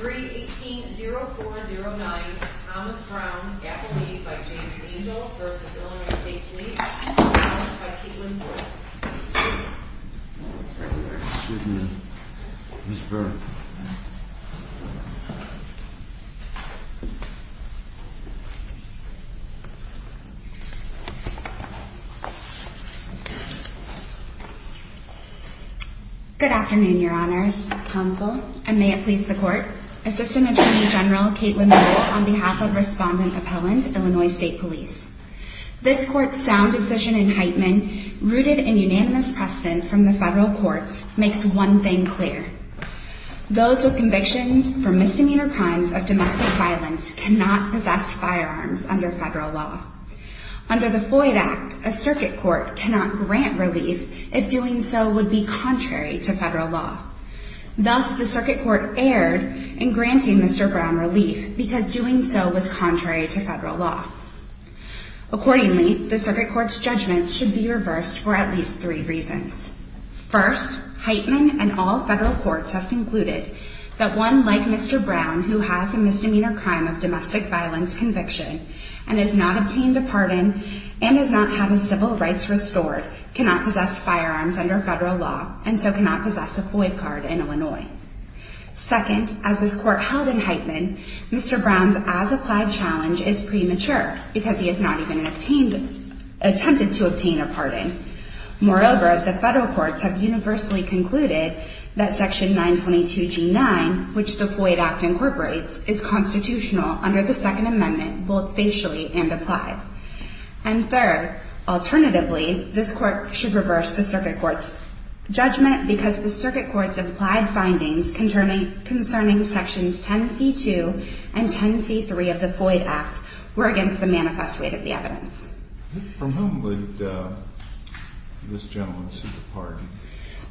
318-0409 Thomas Brown, Appellee, by James Angel, v. Illinois State Police, Appealed by Katelyn Ford. Good afternoon, your honors. I'm Ms. Pounsel, and may it please the court, Assistant Attorney General Katelyn Ford, on behalf of Respondent Appellant, Illinois State Police. This court's sound decision in Heitman, rooted in unanimous precedent from the federal courts, makes one thing clear. Those with convictions for misdemeanor crimes of domestic violence cannot possess firearms under federal law. Under the Foyd Act, a circuit court cannot grant relief if doing so would be contrary to federal law. Thus, the circuit court erred in granting Mr. Brown relief because doing so was contrary to federal law. Accordingly, the circuit court's judgment should be reversed for at least three reasons. First, Heitman and all federal courts have concluded that one like Mr. Brown who has a misdemeanor crime of domestic violence conviction and has not obtained a pardon and has not had his civil rights restored cannot possess firearms under federal law and so cannot possess a Foyd card in Illinois. Second, as this court held in Heitman, Mr. Brown's as-applied challenge is premature because he has not even attempted to obtain a pardon. Moreover, the federal courts have universally concluded that Section 922G9, which the Foyd Act incorporates, is constitutional under the Second Amendment, both facially and applied. And third, alternatively, this court should reverse the circuit court's judgment because the circuit court's applied findings concerning Sections 10C2 and 10C3 of the Foyd Act were against the manifest weight of the evidence. From whom would this gentleman seek a pardon?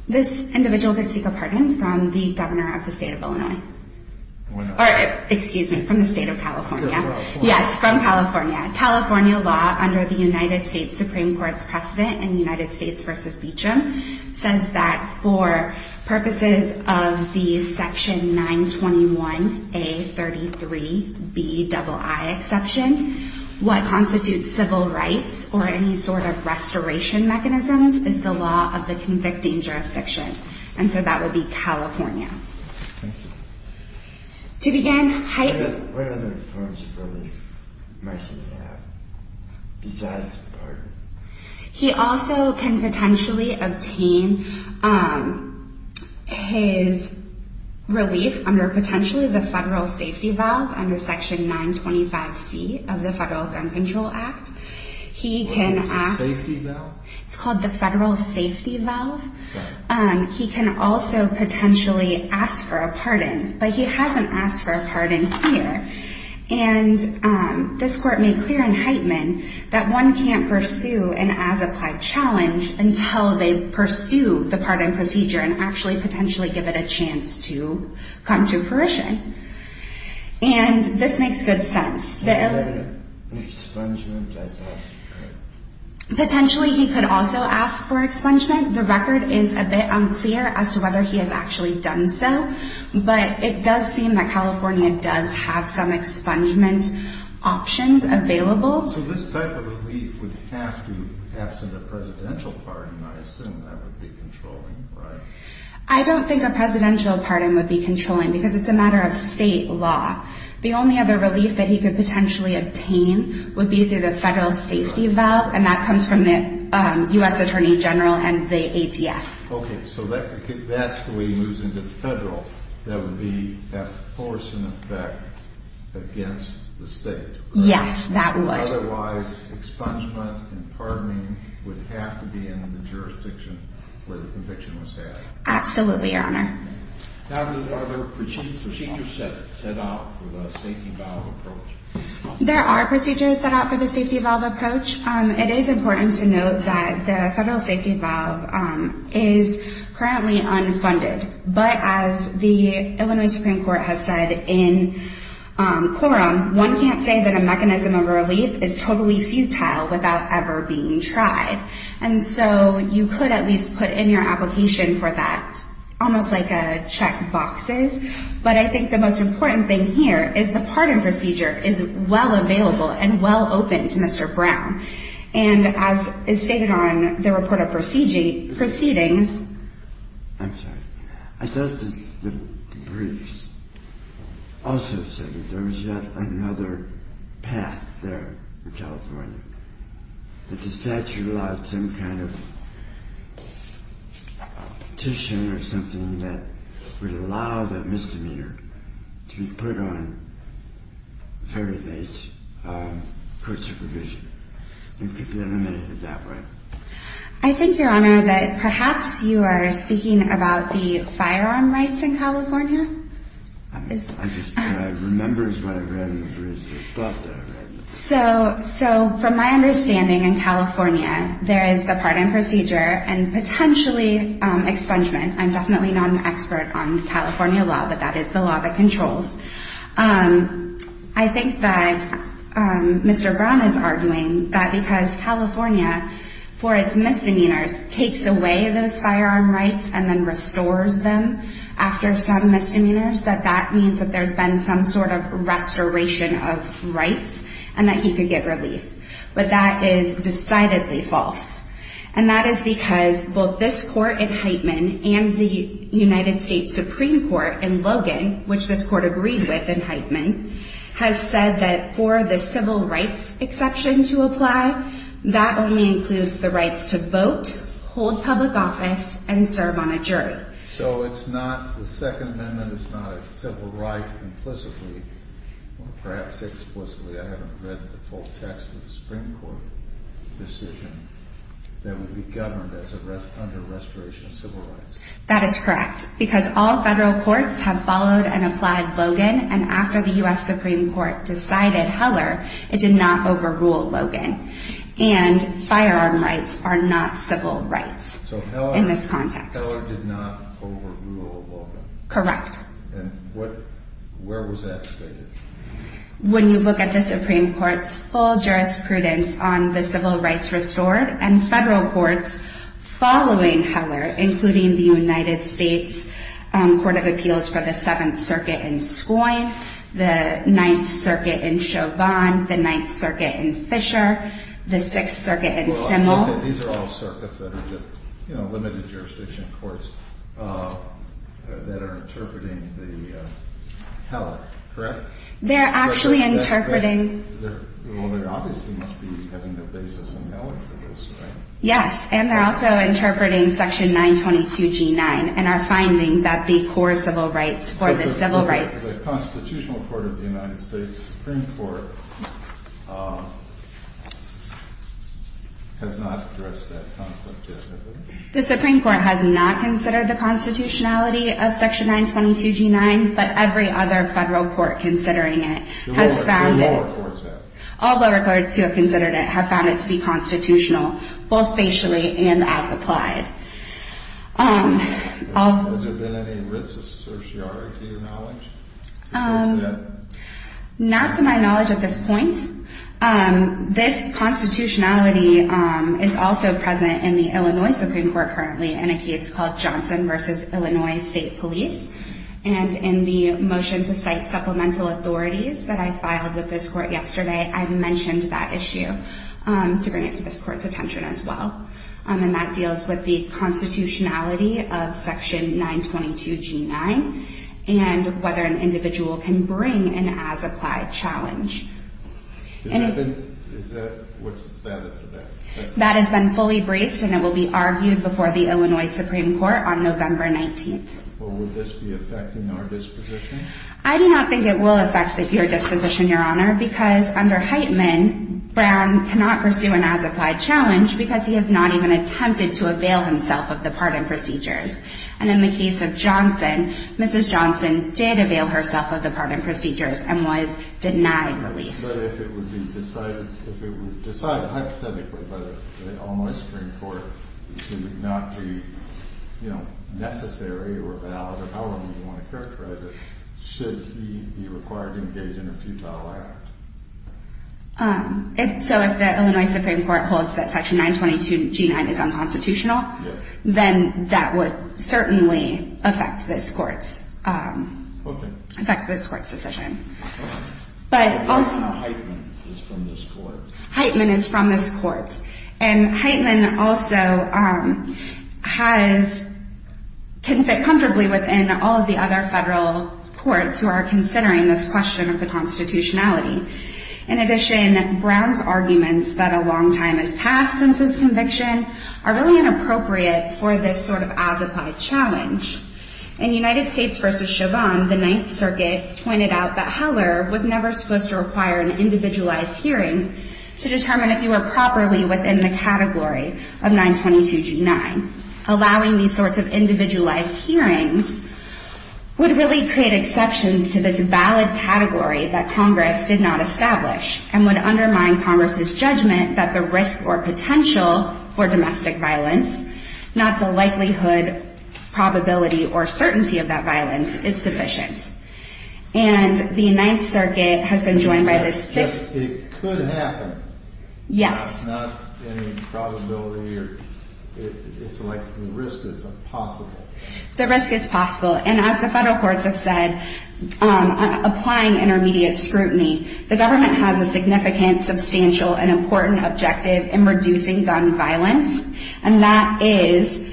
This individual could seek a pardon from the governor of the state of Illinois. Or excuse me, from the state of California. Yes, from California. California law under the United States Supreme Court's precedent in United States v. Beecham says that for purposes of the Section 921A33BII exception, what constitutes civil rights or any sort of restoration mechanisms is the law of the convicting jurisdiction. And so that would be California. Thank you. What other forms of relief might he have besides a pardon? He also can potentially obtain his relief under potentially the federal safety valve under Section 925C of the Federal Gun Control Act. What is the safety valve? It's called the federal safety valve. He can also potentially ask for a pardon. But he hasn't asked for a pardon here. And this Court made clear in Heitman that one can't pursue an as-applied challenge until they pursue the pardon procedure and actually potentially give it a chance to come to fruition. And this makes good sense. What about expungement as after? Potentially he could also ask for expungement. The record is a bit unclear as to whether he has actually done so. But it does seem that California does have some expungement options available. So this type of relief would have to, absent a presidential pardon, I assume that would be controlling, right? I don't think a presidential pardon would be controlling because it's a matter of state law. The only other relief that he could potentially obtain would be through the federal safety valve, and that comes from the U.S. Attorney General and the ATF. Okay, so that's the way he moves into the federal. That would be at force and effect against the state. Yes, that would. Otherwise expungement and pardoning would have to be in the jurisdiction where the conviction was had. Absolutely, Your Honor. Are there procedures set out for the safety valve approach? There are procedures set out for the safety valve approach. It is important to note that the federal safety valve is currently unfunded. But as the Illinois Supreme Court has said in quorum, one can't say that a mechanism of relief is totally futile without ever being tried. And so you could at least put in your application for that, almost like check boxes. But I think the most important thing here is the pardon procedure is well available and well open to Mr. Brown. And as is stated on the report of proceedings. I'm sorry. I thought the briefs also said that there was yet another path there in California, that the statute allowed some kind of petition or something that would allow the misdemeanor to be put on very late court supervision. It could be eliminated that way. I think, Your Honor, that perhaps you are speaking about the firearm rights in California. I just, what I remember is what I read in the briefs. So from my understanding in California, there is the pardon procedure and potentially expungement. I'm definitely not an expert on California law, but that is the law that controls. I think that Mr. Brown is arguing that because California, for its misdemeanors, takes away those firearm rights and then restores them after some misdemeanors, that that means that there's been some sort of restoration of rights and that he could get relief. But that is decidedly false. And that is because both this court in Heitman and the United States Supreme Court in Logan, which this court agreed with in Heitman, has said that for the civil rights exception to apply, that only includes the rights to vote, hold public office, and serve on a jury. So it's not, the Second Amendment is not a civil right implicitly, or perhaps explicitly, I haven't read the full text of the Supreme Court decision, that would be governed under restoration of civil rights. That is correct, because all federal courts have followed and applied Logan, and after the U.S. Supreme Court decided Heller, it did not overrule Logan. And firearm rights are not civil rights in this context. Heller did not overrule Logan. Correct. And what, where was that stated? When you look at the Supreme Court's full jurisprudence on the civil rights restored, and federal courts following Heller, including the United States Court of Appeals for the Seventh Circuit in Schoen, the Ninth Circuit in Chauvin, the Ninth Circuit in Fisher, the Sixth Circuit in Simmel. These are all circuits that are just, you know, limited jurisdiction courts that are interpreting the Heller, correct? They're actually interpreting. Well, they obviously must be having their basis in Heller for this, right? Yes, and they're also interpreting Section 922G9, and are finding that the core civil rights for the civil rights. The Constitutional Court of the United States Supreme Court has not addressed that concept yet, has it? The Supreme Court has not considered the constitutionality of Section 922G9, but every other federal court considering it has found it. The lower courts have. All lower courts who have considered it have found it to be constitutional, both facially and as applied. Has there been any writs of certiorari, to your knowledge? Not to my knowledge at this point. This constitutionality is also present in the Illinois Supreme Court currently in a case called Johnson v. Illinois State Police. And in the motion to cite supplemental authorities that I filed with this court yesterday, I mentioned that issue to bring it to this court's attention as well. And that deals with the constitutionality of Section 922G9, and whether an individual can bring an as-applied challenge. What's the status of that? That has been fully briefed, and it will be argued before the Illinois Supreme Court on November 19th. Will this be affecting our disposition? I do not think it will affect your disposition, Your Honor, because under Heitman, Brown cannot pursue an as-applied challenge because he has not even attempted to avail himself of the pardon procedures. And in the case of Johnson, Mrs. Johnson did avail herself of the pardon procedures and was denied relief. But if it would be decided hypothetically by the Illinois Supreme Court, it would not be, you know, necessary or valid or however you want to characterize it, should he be required to engage in a futile act. So if the Illinois Supreme Court holds that Section 922G9 is unconstitutional, then that would certainly affect this court's decision. But also Heitman is from this court. And Heitman also has fit comfortably within all of the other federal courts who are considering this question of the constitutionality. In addition, Brown's arguments that a long time has passed since his conviction are really inappropriate for this sort of as-applied challenge. In United States v. Chauvin, the Ninth Circuit pointed out that Heller was never supposed to require an individualized hearing to determine if you were properly within the category of 922G9. Allowing these sorts of individualized hearings would really create exceptions to this valid category that Congress did not establish and would undermine Congress's judgment that the risk or potential for domestic violence, not the likelihood, probability, or certainty of that violence, is sufficient. And the Ninth Circuit has been joined by this six- Yes, it could happen. Yes. Not any probability or, it's like the risk is impossible. The risk is possible. And as the federal courts have said, applying intermediate scrutiny, the government has a significant, substantial, and important objective in reducing gun violence. And that is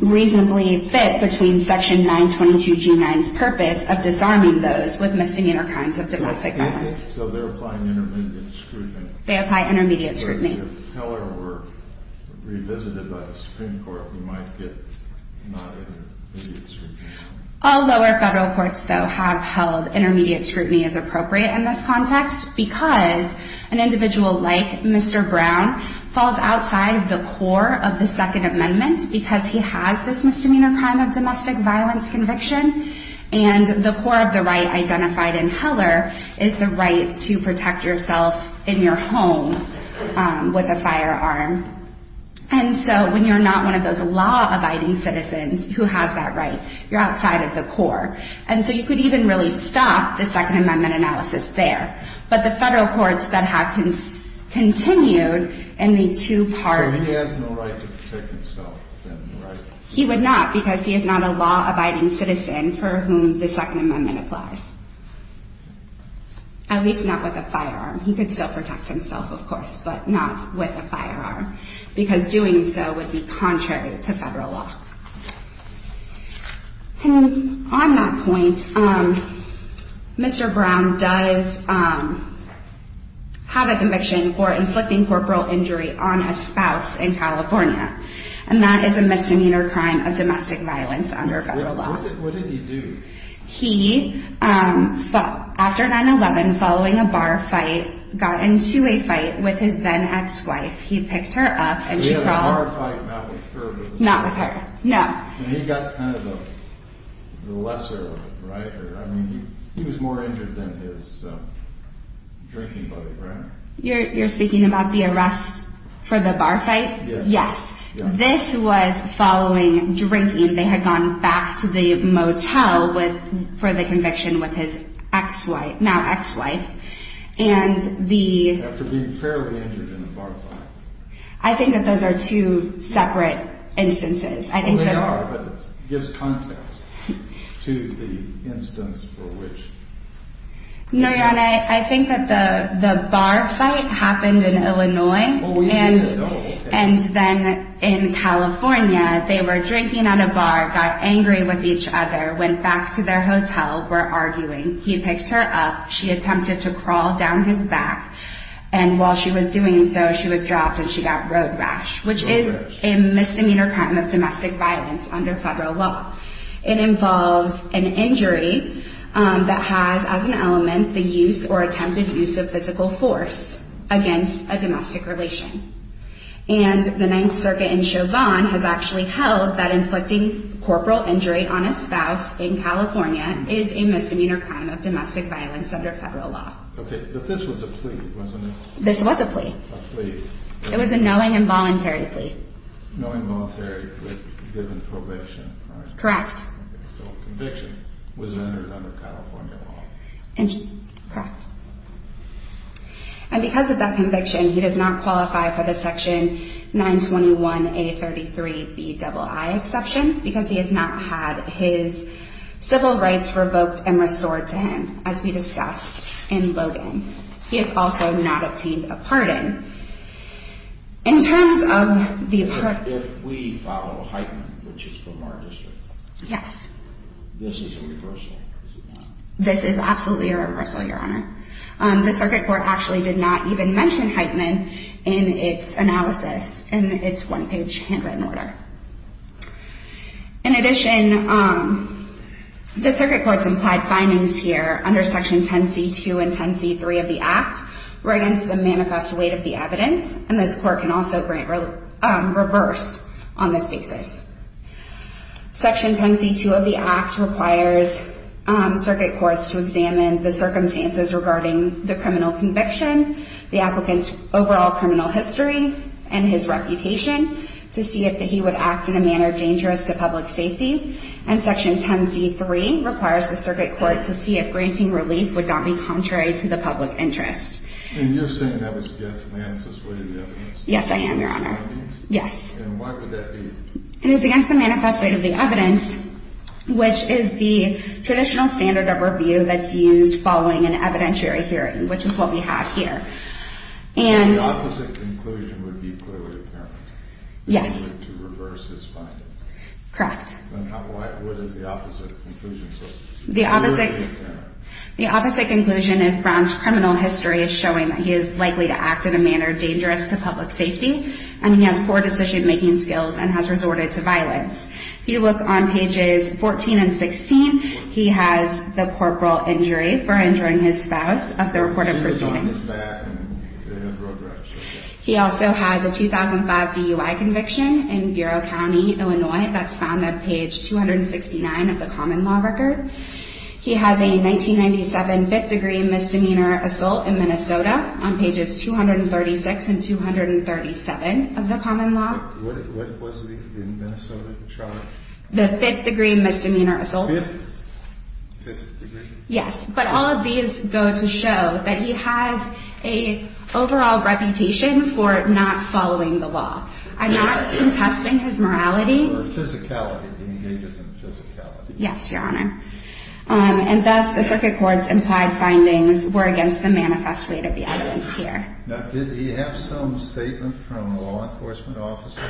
reasonably fit between Section 922G9's purpose of disarming those with misdemeanor crimes of domestic violence. So they're applying intermediate scrutiny. They apply intermediate scrutiny. So if Heller were revisited by the Supreme Court, we might get non-intermediate scrutiny. All lower federal courts, though, have held intermediate scrutiny as appropriate in this context because an individual like Mr. Brown falls outside the core of the Second Amendment because he has this misdemeanor crime of domestic violence conviction. And the core of the right identified in Heller is the right to protect yourself in your home with a firearm. And so when you're not one of those law-abiding citizens who has that right, you're outside of the core. And so you could even really stop the Second Amendment analysis there. But the federal courts that have continued in the two parts. So he has no right to protect himself? He would not because he is not a law-abiding citizen for whom the Second Amendment applies. At least not with a firearm. He could still protect himself, of course, but not with a firearm because doing so would be contrary to federal law. And on that point, Mr. Brown does have a conviction for inflicting corporal injury on his spouse in California. And that is a misdemeanor crime of domestic violence under federal law. What did he do? He, after 9-11, following a bar fight, got into a fight with his then ex-wife. He picked her up and she called. He had a bar fight, not with her? Not with her, no. He got kind of the lesser of it, right? I mean, he was more injured than his drinking buddy, right? You're speaking about the arrest for the bar fight? Yes. This was following drinking. They had gone back to the motel for the conviction with his now ex-wife. After being fairly injured in a bar fight. I think that those are two separate instances. They are, but it gives context to the instance for which. No, Your Honor, I think that the bar fight happened in Illinois. Well, we didn't know. And then in California, they were drinking at a bar, got angry with each other, went back to their hotel, were arguing. He picked her up. She attempted to crawl down his back. And while she was doing so, she was dropped and she got road rash, which is a misdemeanor crime of domestic violence under federal law. It involves an injury that has as an element the use or attempted use of physical force against a domestic relation. And the Ninth Circuit in Chauvin has actually held that inflicting corporal injury on a spouse in California is a misdemeanor crime of domestic violence under federal law. Okay, but this was a plea, wasn't it? This was a plea. A plea. It was a knowing and voluntary plea. Knowing and voluntary plea given probation. Correct. So conviction was rendered under California law. Correct. And because of that conviction, he does not qualify for the section 921A33BII exception because he has not had his civil rights revoked and restored to him, as we discussed in Logan. He has also not obtained a pardon. In terms of the— If we follow Heitman, which is from our district— Yes. This is a reversal, is it not? This is absolutely a reversal, Your Honor. The Circuit Court actually did not even mention Heitman in its analysis in its one-page handwritten order. In addition, the Circuit Court's implied findings here under Section 10c2 and 10c3 of the Act were against the manifest weight of the evidence, and this Court can also reverse on this basis. Section 10c2 of the Act requires Circuit Courts to examine the circumstances regarding the criminal conviction, the applicant's overall criminal history, and his reputation to see if he would act in a manner dangerous to public safety. And Section 10c3 requires the Circuit Court to see if granting relief would not be contrary to the public interest. And you're saying that was against the manifest weight of the evidence? Yes, I am, Your Honor. Yes. And why would that be? It is against the manifest weight of the evidence, which is the traditional standard of review that's used following an evidentiary hearing, which is what we have here. So the opposite conclusion would be clearly apparent? Yes. If you were to reverse his findings? Correct. Then what is the opposite conclusion? The opposite conclusion is Brown's criminal history is showing that he is likely to act in a manner dangerous to public safety, and he has poor decision-making skills and has resorted to violence. If you look on pages 14 and 16, he has the corporal injury for injuring his spouse, of the reported proceedings. He also has a 2005 DUI conviction in Bureau County, Illinois. That's found at page 269 of the common law record. He has a 1997 fifth-degree misdemeanor assault in Minnesota on pages 236 and 237 of the common law. What was the Minnesota charge? The fifth-degree misdemeanor assault. Fifth? Fifth degree? Yes. But all of these go to show that he has an overall reputation for not following the law. I'm not contesting his morality. Physicality. He engages in physicality. Yes, Your Honor. And thus, the circuit court's implied findings were against the manifest weight of the evidence here. Now, did he have some statement from a law enforcement officer?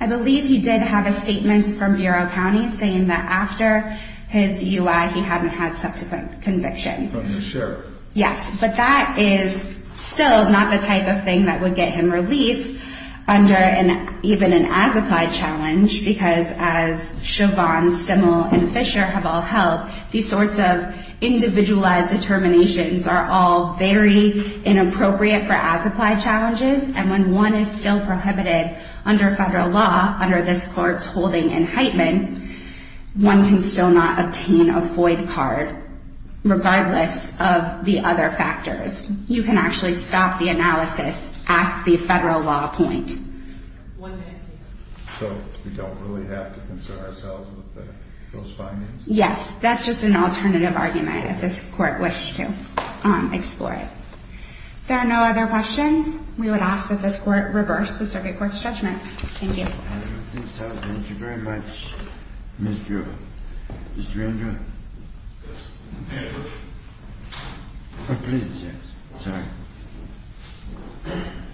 I believe he did have a statement from Bureau County saying that after his DUI, he hadn't had subsequent convictions. From the sheriff. Yes. But that is still not the type of thing that would get him relief under even an as-applied challenge, because as Chauvin, Stimmel, and Fisher have all held, these sorts of individualized determinations are all very inappropriate for as-applied challenges. And when one is still prohibited under federal law, under this Court's holding in Heitman, one can still not obtain a void card regardless of the other factors. You can actually stop the analysis at the federal law point. One minute, please. So we don't really have to concern ourselves with those findings? Yes. That's just an alternative argument if this Court wished to explore it. There are no other questions. We would ask that this Court reverse the circuit court's judgment. Thank you. I don't think so. Thank you very much, Ms. Brewer. Mr. Andrew? Yes. Oh, please, yes. Sorry.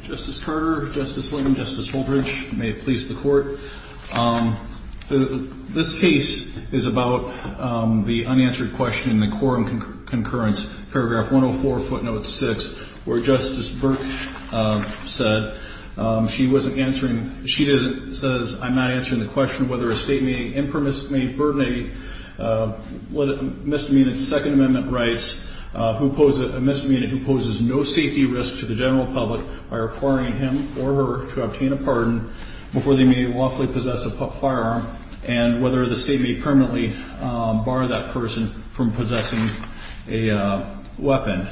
Justice Carter, Justice Lind, Justice Holdridge, may it please the Court. This case is about the unanswered question in the quorum concurrence, paragraph 104, footnote 6, where Justice Burke said she wasn't answering, she says, I'm not answering the question whether a State may impermissibly burden a misdemeanor's Second Amendment rights, a misdemeanor who poses no safety risk to the general public by requiring him or her to obtain a pardon before they may lawfully possess a firearm, and whether the State may permanently bar that person from possessing a weapon.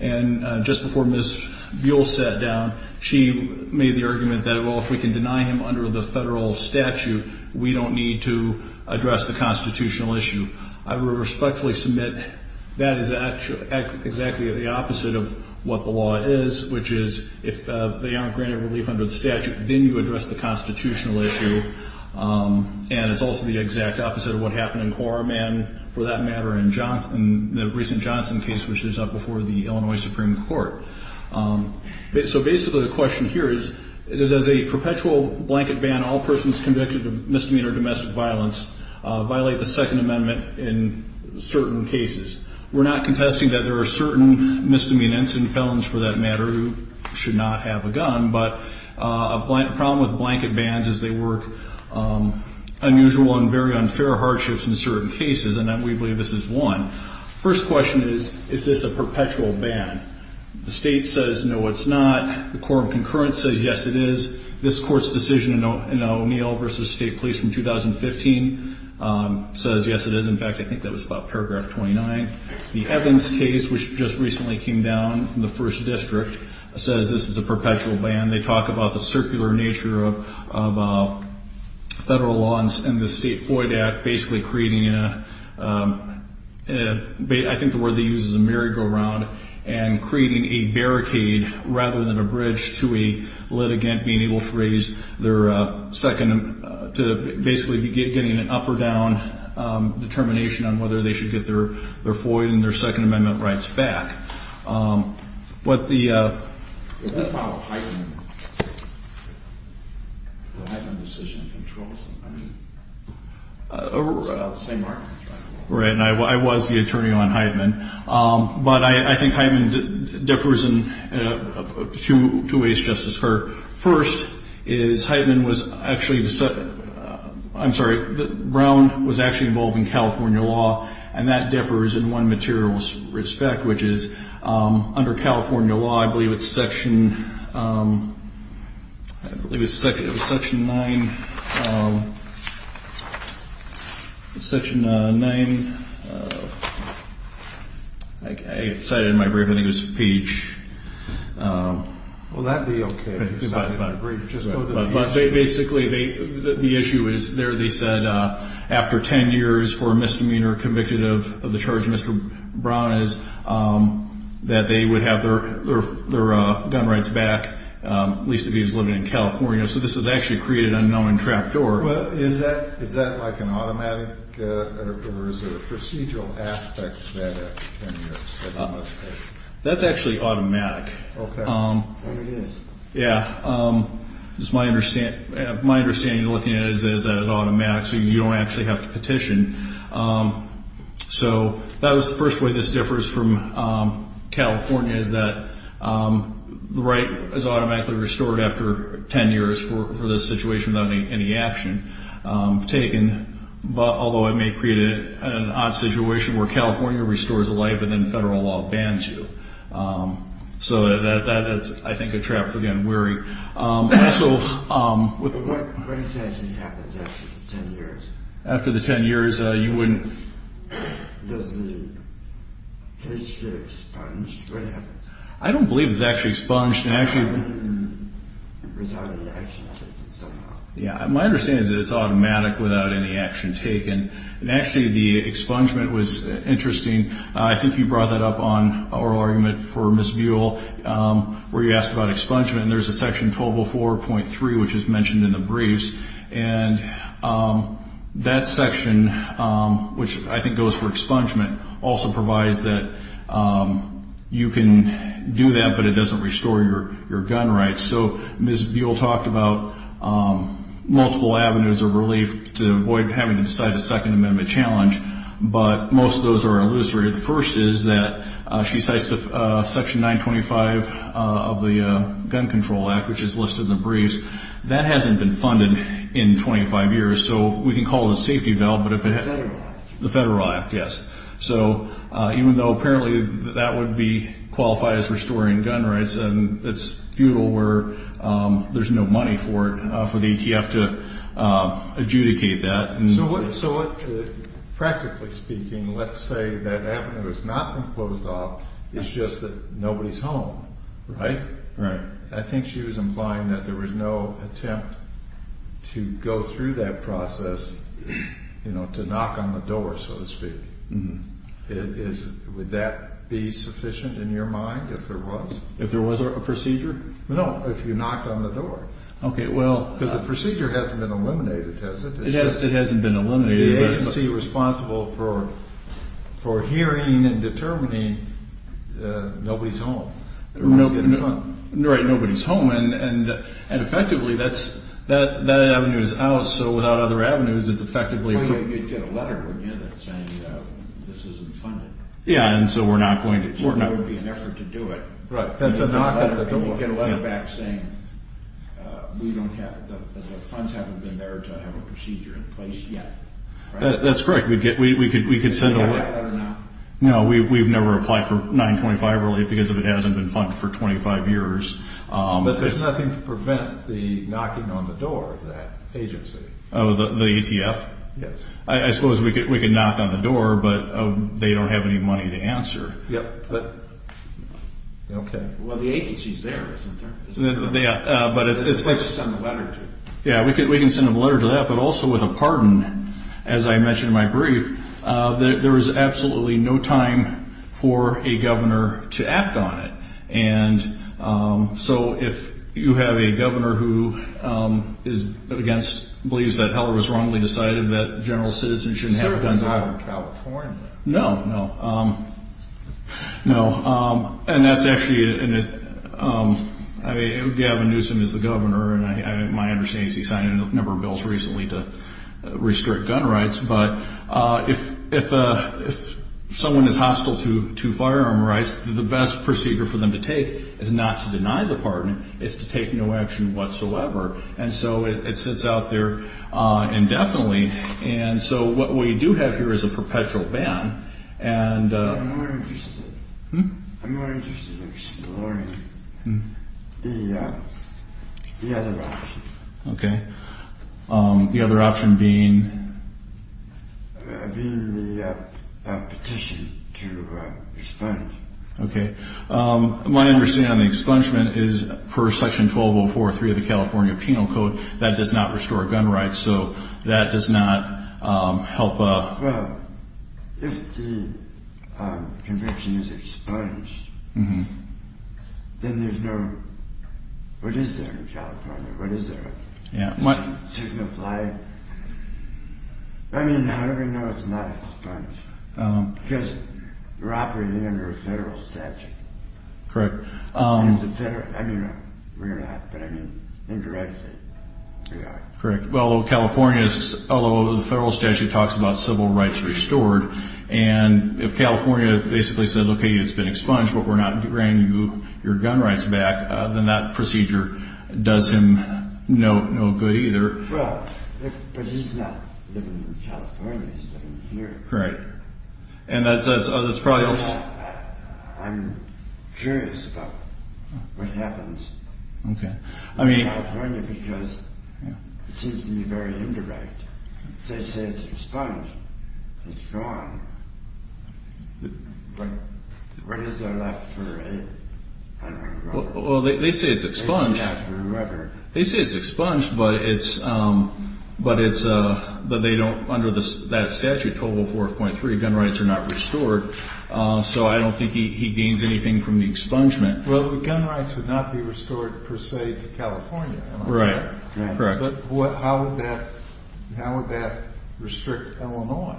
And just before Ms. Buell sat down, she made the argument that, well, if we can deny him under the federal statute, we don't need to address the constitutional issue. I would respectfully submit that is exactly the opposite of what the law is, which is if they aren't granted relief under the statute, then you address the constitutional issue, and it's also the exact opposite of what happened in Quorum and, for that matter, in the recent Johnson case, which is up before the Illinois Supreme Court. So basically the question here is, does a perpetual blanket ban all persons convicted of misdemeanor domestic violence violate the Second Amendment in certain cases? We're not contesting that there are certain misdemeanants and felons, for that matter, who should not have a gun, but a problem with blanket bans is they work unusual and very unfair hardships in certain cases, and we believe this is one. First question is, is this a perpetual ban? The State says, no, it's not. The Quorum concurrence says, yes, it is. This Court's decision in O'Neill v. State Police from 2015 says, yes, it is. In fact, I think that was about Paragraph 29. The Evans case, which just recently came down from the First District, says this is a perpetual ban. They talk about the circular nature of federal laws and the State FOIA Act basically creating a, I think the word they use is a merry-go-round, and creating a barricade rather than a bridge to a litigant being able to raise their second, to basically be getting an up or down determination on whether they should get their FOIA and their Second Amendment rights back. What the... Is that file a Heitman decision? Right, and I was the attorney on Heitman. But I think Heitman differs in two ways, Justice Kerr. First is Heitman was actually, I'm sorry, Brown was actually involved in California law, and that differs in one material respect, which is under California law, I believe it's Section, I believe it's Section 9, Section 9, I cited it in my brief, I think it was Page. Well, that would be okay if you cited it in a brief. But basically the issue is there they said after 10 years for a misdemeanor convicted of the charge of Mr. Brown is that they would have their gun rights back, at least if he was living in California. So this has actually created an unknown trapdoor. Well, is that like an automatic or is there a procedural aspect to that? That's actually automatic. Okay. And it is? Yeah. My understanding looking at it is that it's automatic, so you don't actually have to petition. So that was the first way this differs from California, is that the right is automatically restored after 10 years for this situation without any action taken. Although it may create an odd situation where California restores a life and then federal law bans you. So that is, I think, a trap for getting weary. What exactly happens after 10 years? After the 10 years, you wouldn't. Does the case get expunged? What happens? I don't believe it's actually expunged. I mean, without any action taken somehow. Yeah, my understanding is that it's automatic without any action taken. And actually, the expungement was interesting. I think you brought that up on oral argument for Ms. Buell, where you asked about expungement, and there's a section 1204.3, which is mentioned in the briefs. And that section, which I think goes for expungement, also provides that you can do that, but it doesn't restore your gun rights. So Ms. Buell talked about multiple avenues of relief to avoid having to decide a Second Amendment challenge, but most of those are illustrated. The first is that she cites Section 925 of the Gun Control Act, which is listed in the briefs. That hasn't been funded in 25 years, so we can call it a safety valve. The Federal Act. The Federal Act, yes. So even though apparently that would qualify as restoring gun rights, it's futile where there's no money for it for the ATF to adjudicate that. So practically speaking, let's say that avenue has not been closed off, it's just that nobody's home, right? Right. I think she was implying that there was no attempt to go through that process, to knock on the door, so to speak. Would that be sufficient in your mind if there was? If there was a procedure? No, if you knocked on the door. Okay, well. Because the procedure hasn't been eliminated, has it? It hasn't been eliminated. The agency responsible for hearing and determining nobody's home. Right, nobody's home. And effectively, that avenue is out, so without other avenues, it's effectively. You'd get a letter, wouldn't you, that's saying this isn't funded? Yeah, and so we're not going to. There would be an effort to do it. Right. That's a knock on the door. You'd get a letter back saying the funds haven't been there to have a procedure in place yet. That's correct. We could send a letter. Do you have that letter now? No, we've never applied for 925 really because it hasn't been funded for 25 years. But there's nothing to prevent the knocking on the door of that agency. Oh, the ATF? Yes. I suppose we could knock on the door, but they don't have any money to answer. Yep. Okay. Well, the agency's there, isn't there? Yeah, but it's... Unless you send a letter to them. Yeah, we can send them a letter to that, but also with a pardon, as I mentioned in my brief, there is absolutely no time for a governor to act on it. And so if you have a governor who believes that Heller was wrongly decided that general citizens shouldn't have guns... Is there a guy from California? No, no. No, and that's actually... I mean, Gavin Newsom is the governor, and my understanding is he signed a number of bills recently to restrict gun rights. But if someone is hostile to firearm rights, the best procedure for them to take is not to deny the pardon. It's to take no action whatsoever. And so it sits out there indefinitely. And so what we do have here is a perpetual ban. I'm more interested in exploring the other option. Okay. The other option being... Being the petition to expunge. Okay. My understanding on the expungement is per Section 1204.3 of the California Penal Code, that does not restore gun rights. So that does not help... Well, if the conviction is expunged, then there's no... What is there in California? What is there? Signify... I mean, how do we know it's not expunged? Because we're operating under a federal statute. Correct. And it's a federal... I mean, we're not. But I mean, indirectly, we are. Correct. Well, California is... Although the federal statute talks about civil rights restored. And if California basically said, okay, it's been expunged, but we're not granting you your gun rights back, then that procedure does him no good either. Well, but he's not living in California. He's living here. Correct. And that's probably... I'm curious about what happens. Okay. In California, because it seems to be very indirect. They say it's expunged. It's gone. But what is there left for him? Well, they say it's expunged. They say it's forever. They say it's expunged, but it's... But they don't... Under that statute, 1204.3, gun rights are not restored. So I don't think he gains anything from the expungement. Well, the gun rights would not be restored, per se, to California. Right. Correct. But how would that restrict Illinois?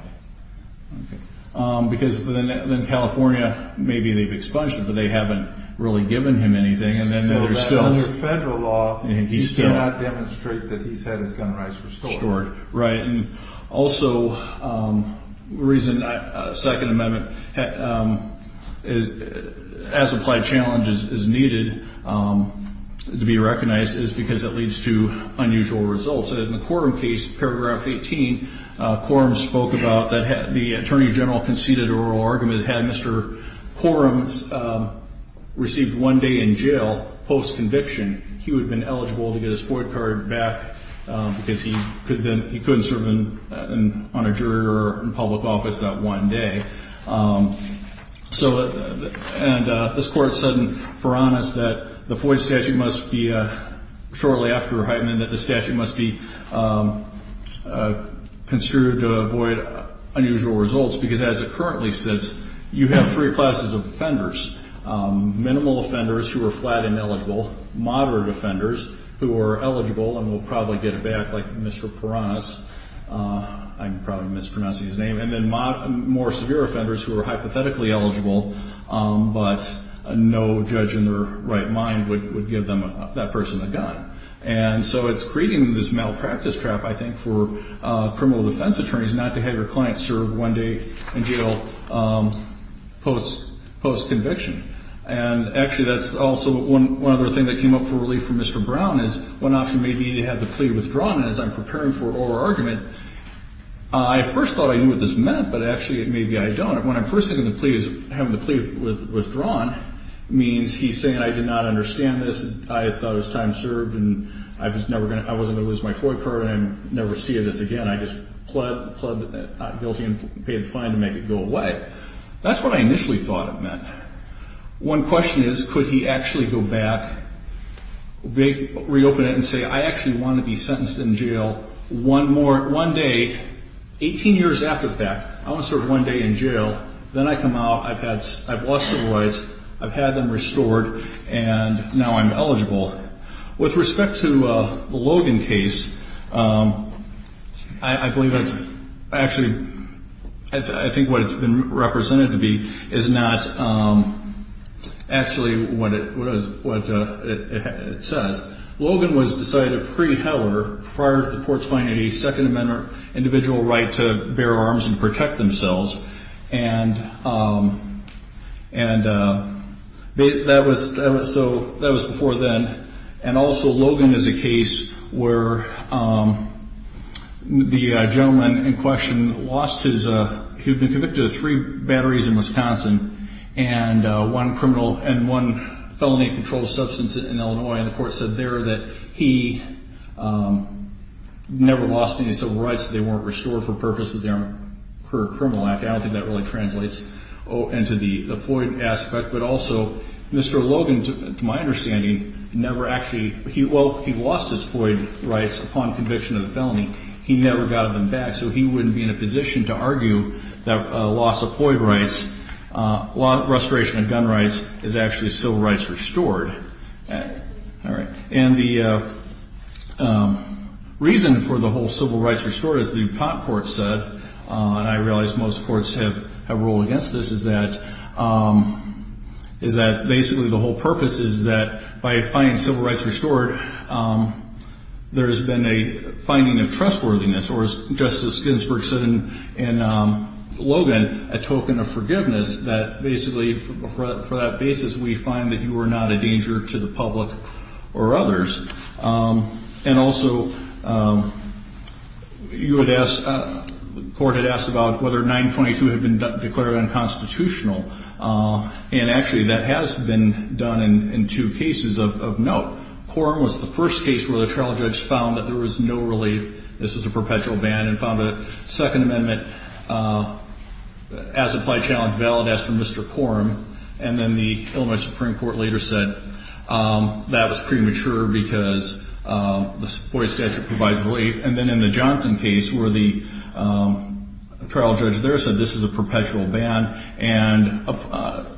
Because then California, maybe they've expunged it, but they haven't really given him anything. And then there's still... Under federal law, he cannot demonstrate that he's had his gun rights restored. Restored, right. And also, the reason a second amendment as applied challenge is needed to be recognized is because it leads to unusual results. In the Coram case, Paragraph 18, Coram spoke about that the Attorney General conceded an oral argument that had Mr. Coram received one day in jail post-conviction, he would have been eligible to get his FOIA card back because he couldn't serve on a jury or in public office that one day. And this Court said in Furanis that the FOIA statute must be, shortly after Hyman, that the statute must be construed to avoid unusual results because as it currently sits, you have three classes of offenders, minimal offenders who are flat and eligible, moderate offenders who are eligible and will probably get it back, like Mr. Paranis. I'm probably mispronouncing his name. And then more severe offenders who are hypothetically eligible, but no judge in their right mind would give that person a gun. And so it's creating this malpractice trap, I think, for criminal defense attorneys not to have your client serve one day in jail post-conviction. And actually that's also one other thing that came up for relief from Mr. Brown is one option may be to have the plea withdrawn. And as I'm preparing for oral argument, I first thought I knew what this meant, but actually maybe I don't. When I first think of the plea as having the plea withdrawn, it means he's saying I did not understand this, I thought it was time served, and I wasn't going to lose my FOIA card, and I'm never seeing this again. I just pled not guilty and paid the fine to make it go away. That's what I initially thought it meant. One question is could he actually go back, reopen it and say I actually want to be sentenced in jail one day, 18 years after that. I want to serve one day in jail. Then I come out, I've lost the rights, I've had them restored, and now I'm eligible. With respect to the Logan case, I believe that's actually, I think what it's been represented to be is not actually what it says. Logan was decided a free heller prior to the Portsmouth 1882nd Amendment individual right to bear arms and protect themselves. That was before then. Also, Logan is a case where the gentleman in question lost his, he'd been convicted of three batteries in Wisconsin and one felony controlled substance in Illinois, and the court said there that he never lost any civil rights, they weren't restored for purposes of their criminal act. I don't think that really translates into the FOIA aspect. But also, Mr. Logan, to my understanding, never actually, well, he lost his FOIA rights upon conviction of the felony. He never got them back, so he wouldn't be in a position to argue that a loss of FOIA rights, loss of restoration of gun rights is actually civil rights restored. All right. And the reason for the whole civil rights restored, as the pot court said, and I realize most courts have ruled against this, is that basically the whole purpose is that by finding civil rights restored, there's been a finding of trustworthiness, or as Justice Ginsburg said in Logan, a token of forgiveness, that basically for that basis, we find that you are not a danger to the public or others. And also, you would ask, the court had asked about whether 922 had been declared unconstitutional, and actually that has been done in two cases of note. Quorum was the first case where the trial judge found that there was no relief, this was a perpetual ban, and found a second amendment as applied challenge valid as to Mr. Quorum, and then the Illinois Supreme Court later said that was premature because the FOIA statute provides relief. And then in the Johnson case where the trial judge there said this is a perpetual ban, and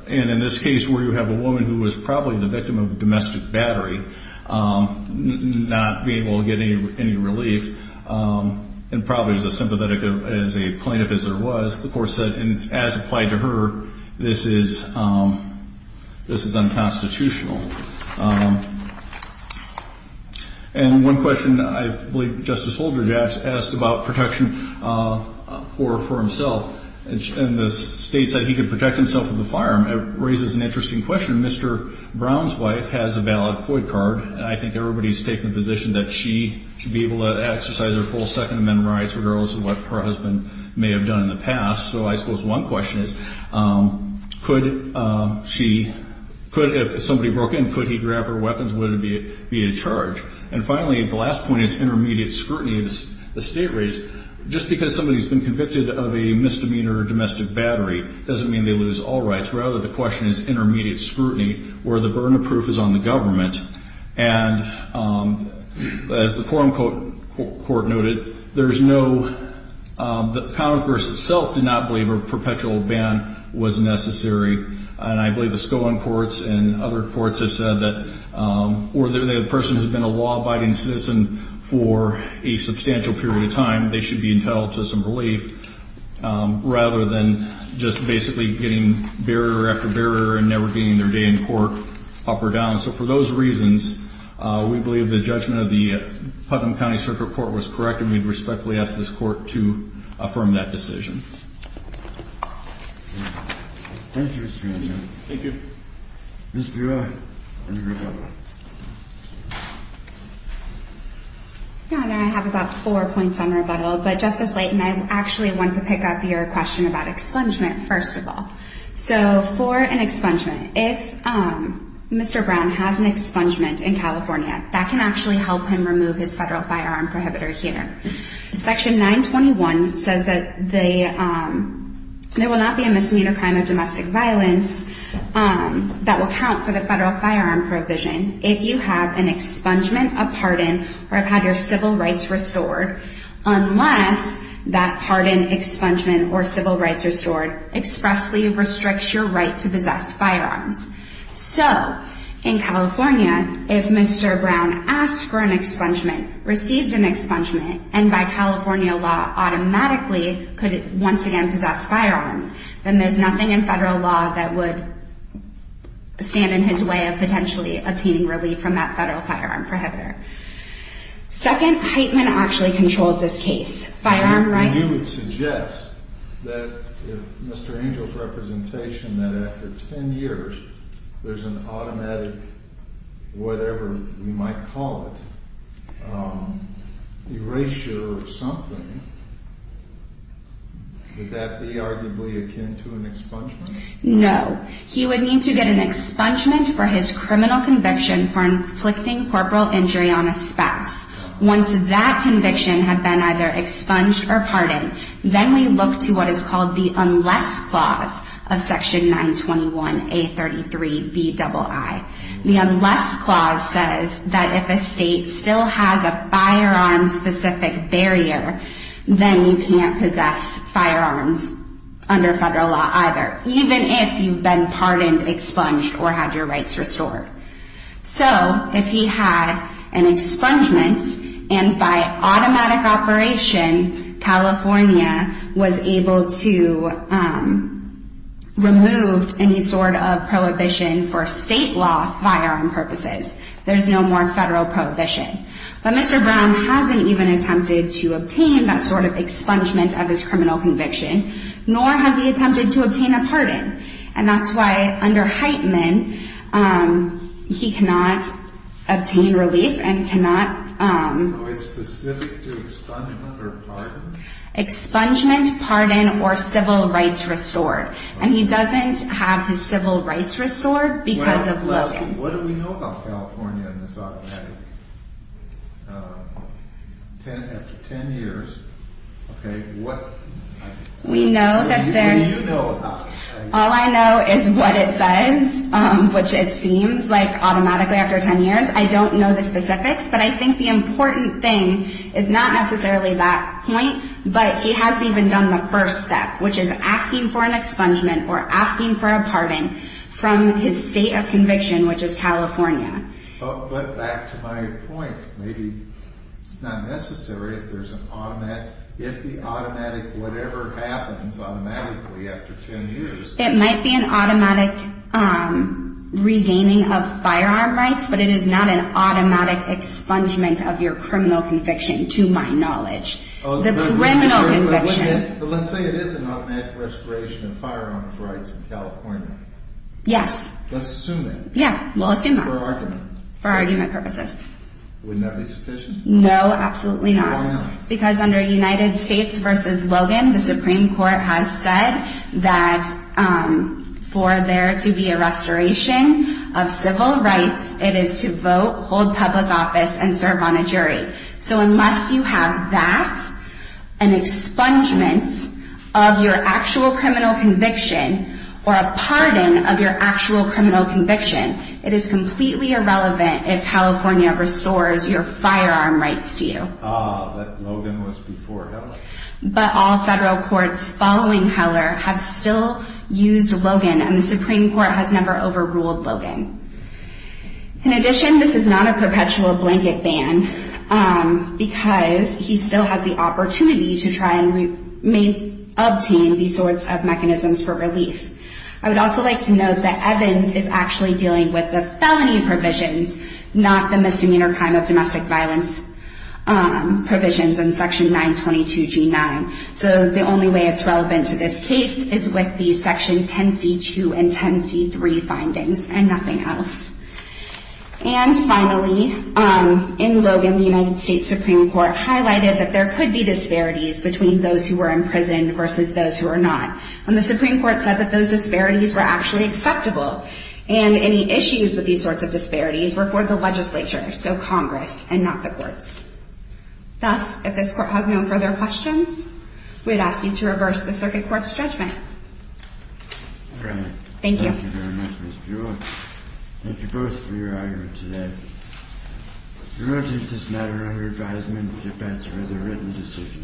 in this case where you have a woman who was probably the victim of domestic battery not being able to get any relief, and probably as sympathetic as a plaintiff as there was, the court said as applied to her, this is unconstitutional. And one question I believe Justice Holdred asked about protection for himself, and the state said he could protect himself with a firearm, it raises an interesting question. Mr. Brown's wife has a valid FOIA card, and I think everybody's taking the position that she should be able to exercise her full second amendment rights, regardless of what her husband may have done in the past. So I suppose one question is, could she, if somebody broke in, could he grab her weapons, would it be a charge? And finally, the last point is intermediate scrutiny of the state rates. Just because somebody's been convicted of a misdemeanor or domestic battery doesn't mean they lose all rights. Rather, the question is intermediate scrutiny, where the burden of proof is on the government. And as the forum court noted, there's no, the Congress itself did not believe a perpetual ban was necessary, and I believe the Scone courts and other courts have said that, or the person has been a law-abiding citizen for a substantial period of time, they should be entitled to some relief, rather than just basically getting barrier after barrier and never gaining their day in court, up or down. So for those reasons, we believe the judgment of the Putnam County Circuit Court was correct, and we respectfully ask this court to affirm that decision. Thank you, Mr. Anderson. Thank you. Ms. Burak. No, and I have about four points on rebuttal, but Justice Leighton, I actually want to pick up your question about expungement, first of all. So for an expungement, if Mr. Brown has an expungement in California, that can actually help him remove his federal firearm prohibitor here. Section 921 says that there will not be a misdemeanor crime of domestic violence that will count for the federal firearm provision if you have an expungement, a pardon, or have had your civil rights restored, unless that pardon, expungement, or civil rights restored expressly restricts your right to possess firearms. So in California, if Mr. Brown asked for an expungement, received an expungement, and by California law automatically could once again possess firearms, then there's nothing in federal law that would stand in his way of potentially obtaining relief from that federal firearm prohibitor. Second, Heitman actually controls this case. Firearm rights. And you would suggest that if Mr. Angel's representation, that after 10 years, there's an automatic whatever you might call it, erasure of something, would that be arguably akin to an expungement? No. He would need to get an expungement for his criminal conviction for inflicting corporal injury on a spouse. Once that conviction had been either expunged or pardoned, then we look to what is called the Unless Clause of Section 921A33BII. The Unless Clause says that if a state still has a firearm-specific barrier, then you can't possess firearms under federal law either, even if you've been pardoned, expunged, or had your rights restored. So if he had an expungement, and by automatic operation, California was able to remove any sort of prohibition for state law firearm purposes. There's no more federal prohibition. But Mr. Brown hasn't even attempted to obtain that sort of expungement of his criminal conviction, nor has he attempted to obtain a pardon. And that's why under Heitman, he cannot obtain relief and cannot... So it's specific to expungement or pardon? Expungement, pardon, or civil rights restored. And he doesn't have his civil rights restored because of Logan. What do we know about California in this automatic? After 10 years, okay, what... We know that there... What do you know about it? All I know is what it says, which it seems like automatically after 10 years. I don't know the specifics, but I think the important thing is not necessarily that point, but he hasn't even done the first step, which is asking for an expungement or asking for a pardon from his state of conviction, which is California. But back to my point, maybe it's not necessary if there's an automatic... If the automatic, whatever happens automatically after 10 years... It might be an automatic regaining of firearm rights, but it is not an automatic expungement of your criminal conviction, to my knowledge. The criminal conviction... But let's say it is an automatic restoration of firearms rights in California. Yes. Let's assume that. Yeah, we'll assume that. For argument. Wouldn't that be sufficient? No, absolutely not. Why not? Because under United States v. Logan, the Supreme Court has said that for there to be a restoration of civil rights, it is to vote, hold public office, and serve on a jury. So unless you have that, an expungement of your actual criminal conviction, or a pardon of your actual criminal conviction, it is completely irrelevant if California restores your firearm rights to you. Ah, that Logan was before Heller. But all federal courts following Heller have still used Logan, and the Supreme Court has never overruled Logan. In addition, this is not a perpetual blanket ban, because he still has the opportunity to try and obtain these sorts of mechanisms for relief. I would also like to note that Evans is actually dealing with the felony provisions, not the misdemeanor crime of domestic violence provisions in Section 922g9. So the only way it's relevant to this case is with the Section 10c2 and 10c3 findings, and nothing else. And finally, in Logan, the United States Supreme Court highlighted that there could be disparities between those who were imprisoned versus those who were not. And the Supreme Court said that those disparities were actually acceptable. And any issues with these sorts of disparities were for the legislature, so Congress, and not the courts. Thus, if this Court has no further questions, we'd ask you to reverse the Circuit Court's judgment. Thank you. Thank you very much, Ms. Buell. Thank you both for your arguments today. The motions in this matter are under advisement of defense or as a written decision.